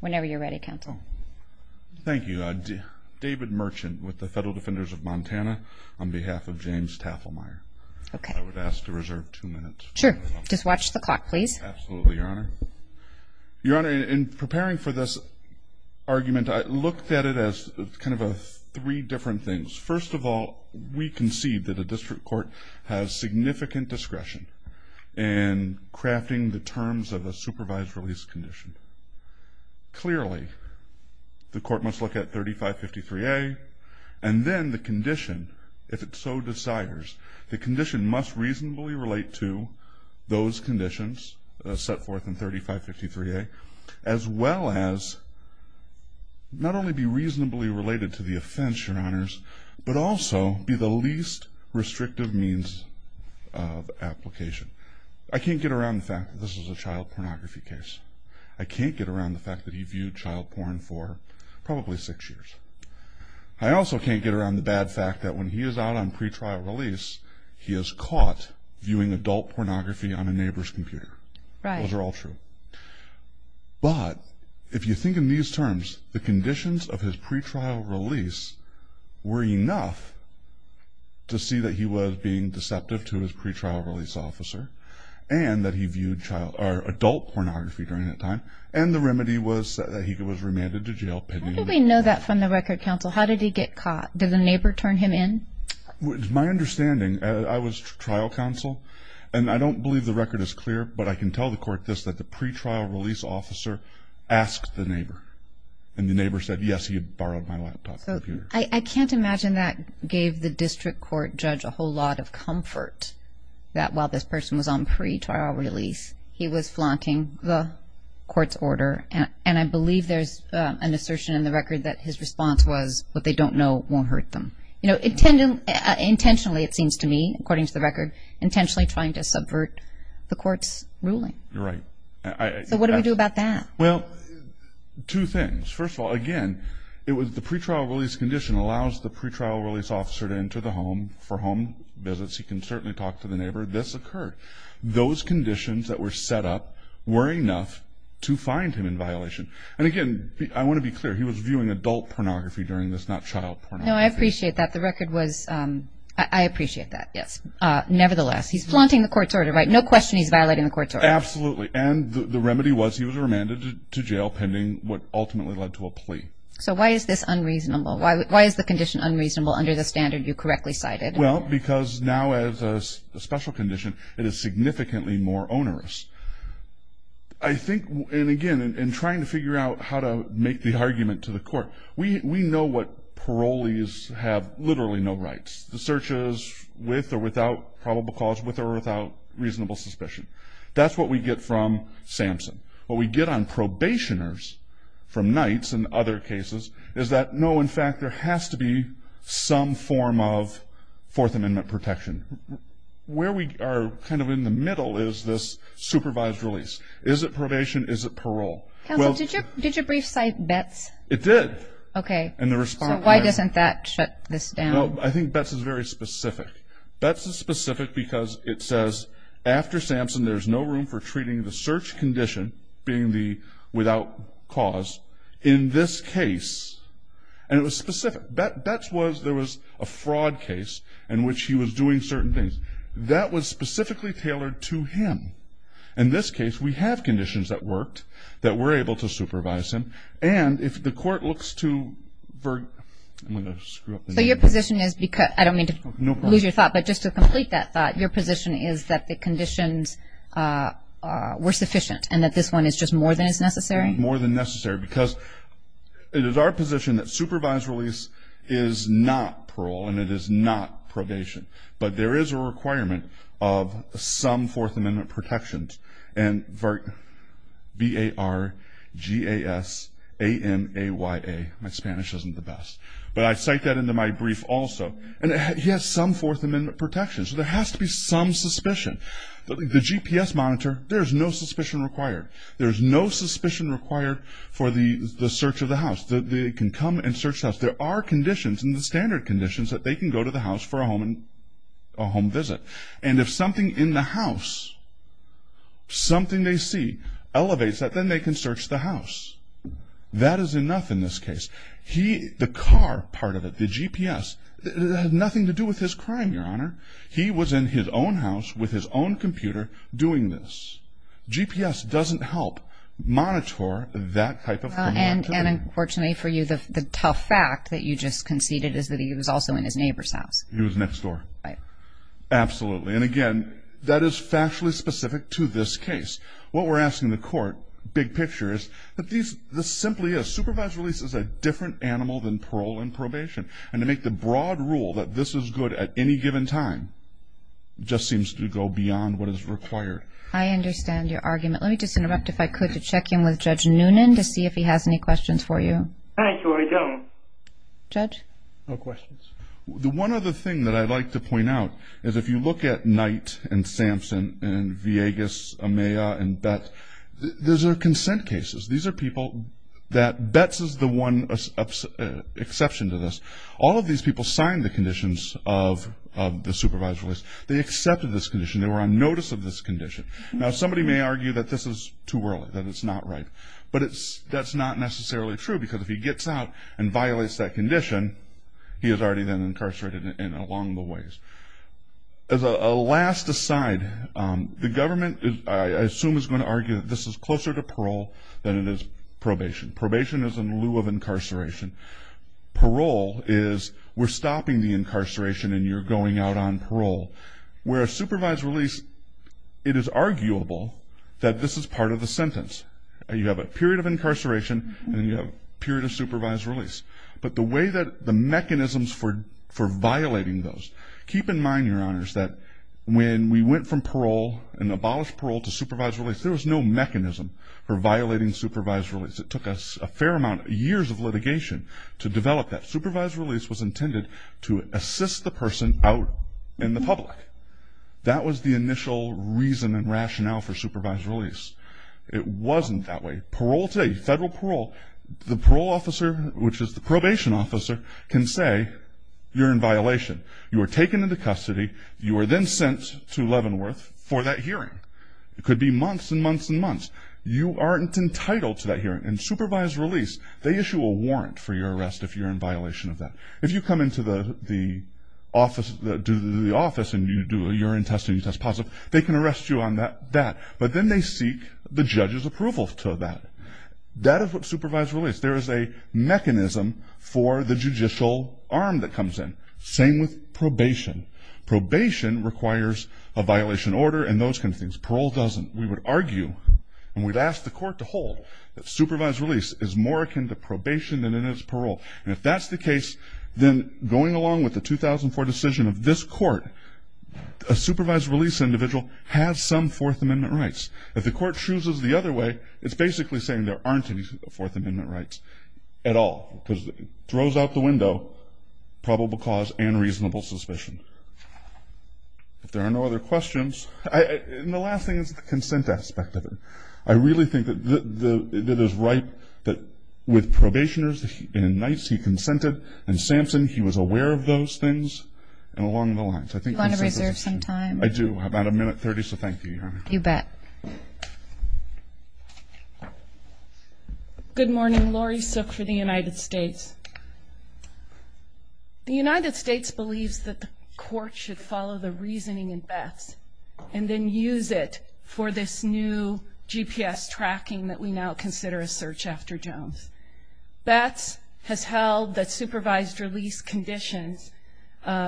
Whenever you're ready, counsel. Thank you. David Merchant with the Federal Defenders of Montana on behalf of James Tafelmeyer. Okay. I would ask to reserve two minutes. Sure. Just watch the clock, please. Absolutely, Your Honor. Your Honor, in preparing for this argument, I looked at it as kind of three different things. First of all, we concede that a district court has significant discretion in crafting the terms of a supervised release condition. Clearly, the court must look at 3553A, and then the condition, if it so desires. The condition must reasonably relate to those conditions set forth in 3553A, as well as not only be reasonably related to the offense, Your Honors, but also be the least restrictive means of application. I can't get around the fact that this is a child pornography case. I can't get around the fact that he viewed child porn for probably six years. I also can't get around the bad fact that when he is out on pretrial release, he is caught viewing adult pornography on a neighbor's computer. Right. Those are all true. But if you think in these terms, the conditions of his pretrial release were enough to see that he was being deceptive to his pretrial release officer and that he viewed adult pornography during that time, and the remedy was that he was remanded to jail pending the court. How do we know that from the record, counsel? How did he get caught? Did the neighbor turn him in? It's my understanding, I was trial counsel, and I don't believe the record is clear, but I can tell the court this, that the pretrial release officer asked the neighbor, and the neighbor said, yes, he had borrowed my laptop computer. I can't imagine that gave the district court judge a whole lot of comfort that while this person was on pretrial release, he was flaunting the court's order, and I believe there's an assertion in the record that his response was, what they don't know won't hurt them. Intentionally, it seems to me, according to the record, intentionally trying to subvert the court's ruling. You're right. So what do we do about that? Well, two things. First of all, again, it was the pretrial release condition allows the pretrial release officer to enter the home for home visits. He can certainly talk to the neighbor. This occurred. Those conditions that were set up were enough to find him in violation, and again, I want to be clear, he was viewing adult pornography during this, not child pornography. No, I appreciate that. The record was, I appreciate that, yes. Nevertheless, he's flaunting the court's order, right? No question he's violating the court's order. Absolutely, and the remedy was he was remanded to jail pending what ultimately led to a plea. So why is this unreasonable? Why is the condition unreasonable under the standard you correctly cited? Well, because now as a special condition, it is significantly more onerous. I think, and again, in trying to figure out how to make the argument to the court, we know what parolees have literally no rights. The search is with or without probable cause, with or without reasonable suspicion. That's what we get from Sampson. What we get on probationers from Knights and other cases is that, no, in fact, there has to be some form of Fourth Amendment protection. Where we are kind of in the middle is this supervised release. Is it probation? Is it parole? Counsel, did your brief cite Betts? It did. Okay. So why doesn't that shut this down? Well, I think Betts is very specific. Betts is specific because it says, after Sampson there's no room for treating the search condition, being the without cause, in this case. And it was specific. Betts was, there was a fraud case in which he was doing certain things. That was specifically tailored to him. In this case, we have conditions that worked that were able to supervise him. And if the court looks to, I'm going to screw up. So your position is, I don't mean to lose your thought, but just to complete that thought, your position is that the conditions were sufficient and that this one is just more than is necessary? More than necessary because it is our position that supervised release is not parole and it is not probation. But there is a requirement of some Fourth Amendment protections. And V-A-R-G-A-S-A-M-A-Y-A, my Spanish isn't the best. But I cite that into my brief also. And he has some Fourth Amendment protections. So there has to be some suspicion. The GPS monitor, there is no suspicion required. There is no suspicion required for the search of the house. They can come and search the house. There are conditions in the standard conditions that they can go to the house for a home visit. And if something in the house, something they see, elevates that, then they can search the house. That is enough in this case. The car part of it, the GPS, had nothing to do with his crime, Your Honor. He was in his own house with his own computer doing this. GPS doesn't help monitor that type of activity. And, unfortunately for you, the tough fact that you just conceded is that he was also in his neighbor's house. He was next door. Right. Absolutely. And, again, that is factually specific to this case. What we're asking the court, big picture, is that this simply is. This is a different animal than parole and probation. And to make the broad rule that this is good at any given time just seems to go beyond what is required. I understand your argument. Let me just interrupt, if I could, to check in with Judge Noonan to see if he has any questions for you. I sure don't. Judge? No questions. The one other thing that I'd like to point out is if you look at Knight and Sampson and Villegas, Amaya, and Betz, those are consent cases. These are people that Betz is the one exception to this. All of these people signed the conditions of the supervisor's release. They accepted this condition. They were on notice of this condition. Now, somebody may argue that this is too early, that it's not right. But that's not necessarily true because if he gets out and violates that condition, he is already then incarcerated and along the ways. As a last aside, the government, I assume, is going to argue that this is closer to parole than it is probation. Probation is in lieu of incarceration. Parole is we're stopping the incarceration and you're going out on parole. Where a supervisor's release, it is arguable that this is part of the sentence. You have a period of incarceration and you have a period of supervisor's release. But the way that the mechanisms for violating those, keep in mind, Your Honors, there was no mechanism for violating supervisor's release. It took us a fair amount, years of litigation to develop that. Supervisor's release was intended to assist the person out in the public. That was the initial reason and rationale for supervisor's release. It wasn't that way. Parole today, federal parole, the parole officer, which is the probation officer, can say you're in violation. You are taken into custody. You are then sent to Leavenworth for that hearing. It could be months and months and months. You aren't entitled to that hearing. And supervisor's release, they issue a warrant for your arrest if you're in violation of that. If you come into the office and you do a urine test and you test positive, they can arrest you on that. But then they seek the judge's approval to that. That is what supervisor's release. Same with probation. Probation requires a violation order and those kinds of things. Parole doesn't. We would argue and we'd ask the court to hold that supervisor's release is more akin to probation than it is parole. And if that's the case, then going along with the 2004 decision of this court, a supervisor's release individual has some Fourth Amendment rights. If the court chooses the other way, it's basically saying there aren't any Fourth Amendment rights at all because it throws out the window probable cause and reasonable suspicion. If there are no other questions. And the last thing is the consent aspect of it. I really think that it is right that with probationers and in nights he consented, and Samson, he was aware of those things and along the lines. Do you want to reserve some time? I do. About a minute 30, so thank you, Your Honor. You bet. Good morning. Laurie Sook for the United States. The United States believes that the court should follow the reasoning in Betts and then use it for this new GPS tracking that we now consider a search after Jones. Betts has held that supervised release conditions,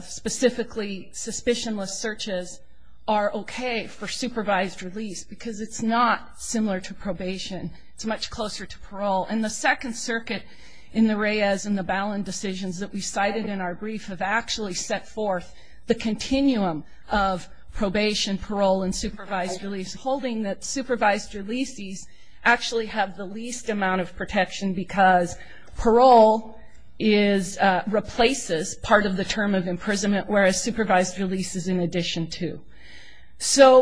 specifically suspicionless searches, are okay for supervised release because it's not similar to probation. It's much closer to parole. And the Second Circuit in the Reyes and the Ballin decisions that we cited in our brief have actually set forth the continuum of probation, parole, and supervised release, because parole replaces part of the term of imprisonment, whereas supervised release is in addition to. So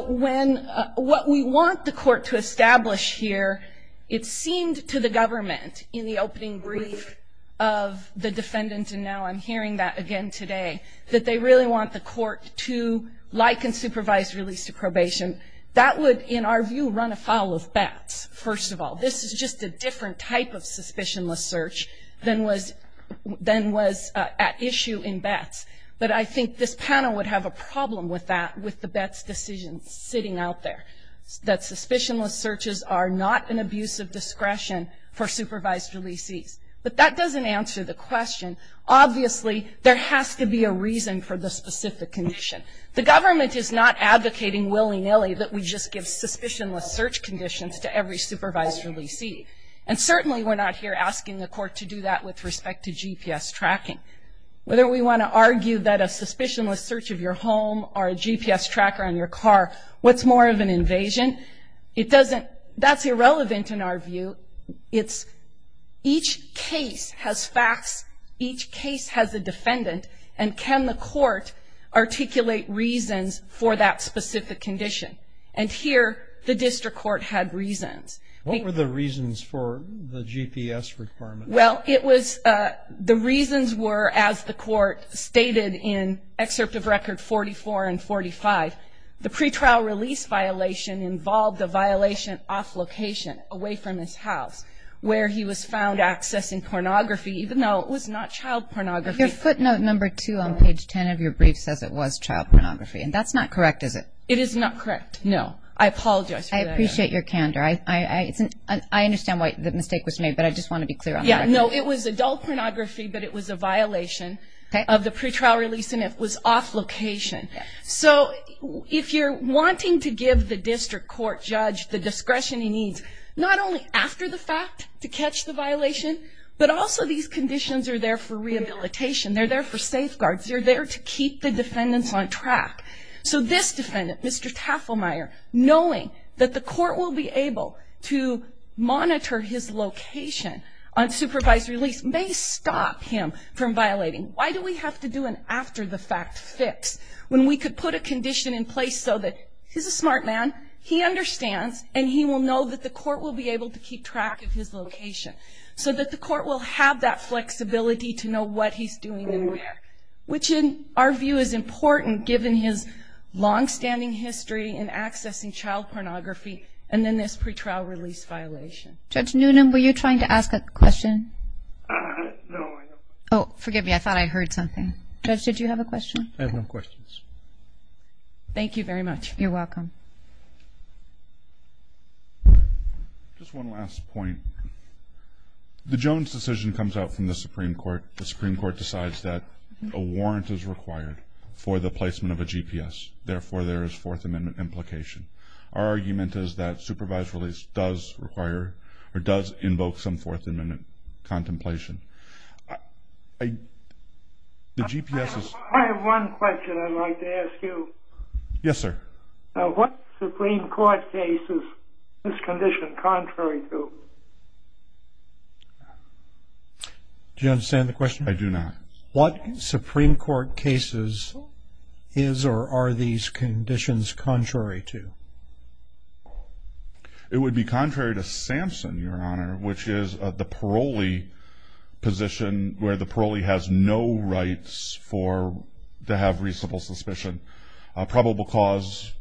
what we want the court to establish here, it seemed to the government in the opening brief of the defendant, and now I'm hearing that again today, that they really want the court to liken supervised release to probation. That would, in our view, run afoul of Betts, first of all. This is just a different type of suspicionless search than was at issue in Betts. But I think this panel would have a problem with that, with the Betts decision sitting out there, that suspicionless searches are not an abuse of discretion for supervised releasees. But that doesn't answer the question. Obviously, there has to be a reason for the specific condition. The government is not advocating willy-nilly that we just give suspicionless search conditions to every supervised releasee. And certainly we're not here asking the court to do that with respect to GPS tracking. Whether we want to argue that a suspicionless search of your home or a GPS tracker on your car, what's more of an invasion? That's irrelevant in our view. Each case has facts, each case has a defendant, and can the court articulate reasons for that specific condition? And here, the district court had reasons. What were the reasons for the GPS requirement? Well, it was the reasons were, as the court stated in Excerpt of Record 44 and 45, the pretrial release violation involved a violation off location, away from his house, where he was found accessing pornography, even though it was not child pornography. Your footnote number two on page 10 of your brief says it was child pornography, and that's not correct, is it? It is not correct, no. I apologize for that. I appreciate your candor. I understand why the mistake was made, but I just want to be clear on that. Yeah, no, it was adult pornography, but it was a violation of the pretrial release and it was off location. So if you're wanting to give the district court judge the discretion he needs, not only after the fact to catch the violation, but also these conditions are there for rehabilitation. They're there for safeguards. They're there to keep the defendants on track. So this defendant, Mr. Tafelmeier, knowing that the court will be able to monitor his location on supervised release, may stop him from violating. Why do we have to do an after-the-fact fix when we could put a condition in place so that he's a smart man, he understands, and he will know that the court will be able to keep track of his location so that the court will have that flexibility to know what he's doing and where, which in our view is important given his longstanding history in accessing child pornography and then this pretrial release violation. Judge Newnham, were you trying to ask a question? No. Oh, forgive me. I thought I heard something. Judge, did you have a question? I have no questions. Thank you very much. You're welcome. Just one last point. The Jones decision comes out from the Supreme Court. The Supreme Court decides that a warrant is required for the placement of a GPS, therefore there is Fourth Amendment implication. Our argument is that supervised release does require or does invoke some Fourth Amendment contemplation. I have one question I'd like to ask you. Yes, sir. What Supreme Court case is this condition contrary to? Do you understand the question? I do not. What Supreme Court case is or are these conditions contrary to? It would be contrary to Samson, Your Honor, which is the parolee position where the parolee has no rights to have reasonable suspicion. A probable cause,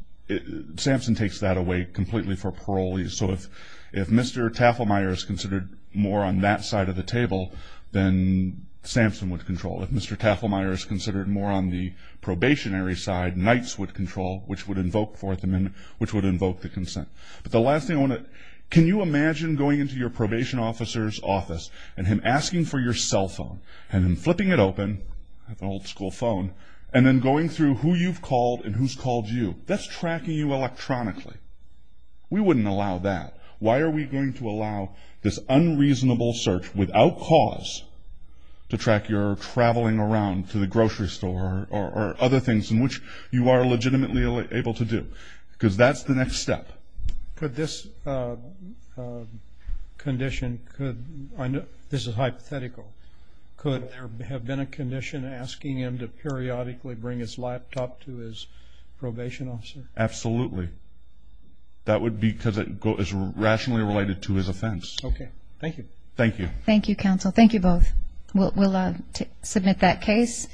Samson takes that away completely for parolees. So if Mr. Tafelmeier is considered more on that side of the table, then Samson would control. If Mr. Tafelmeier is considered more on the probationary side, Knights would control, which would invoke Fourth Amendment, which would invoke the consent. But the last thing I want to ask, can you imagine going into your probation officer's office and him asking for your cell phone and him flipping it open, an old school phone, and then going through who you've called and who's called you? That's tracking you electronically. We wouldn't allow that. Why are we going to allow this unreasonable search without cause to track your traveling around to the grocery store or other things in which you are legitimately able to do? Because that's the next step. Could this condition, this is hypothetical, could there have been a condition asking him to periodically bring his laptop to his probation officer? Absolutely. That would be because it is rationally related to his offense. Okay, thank you. Thank you. Thank you, counsel. Thank you both. We'll submit that case.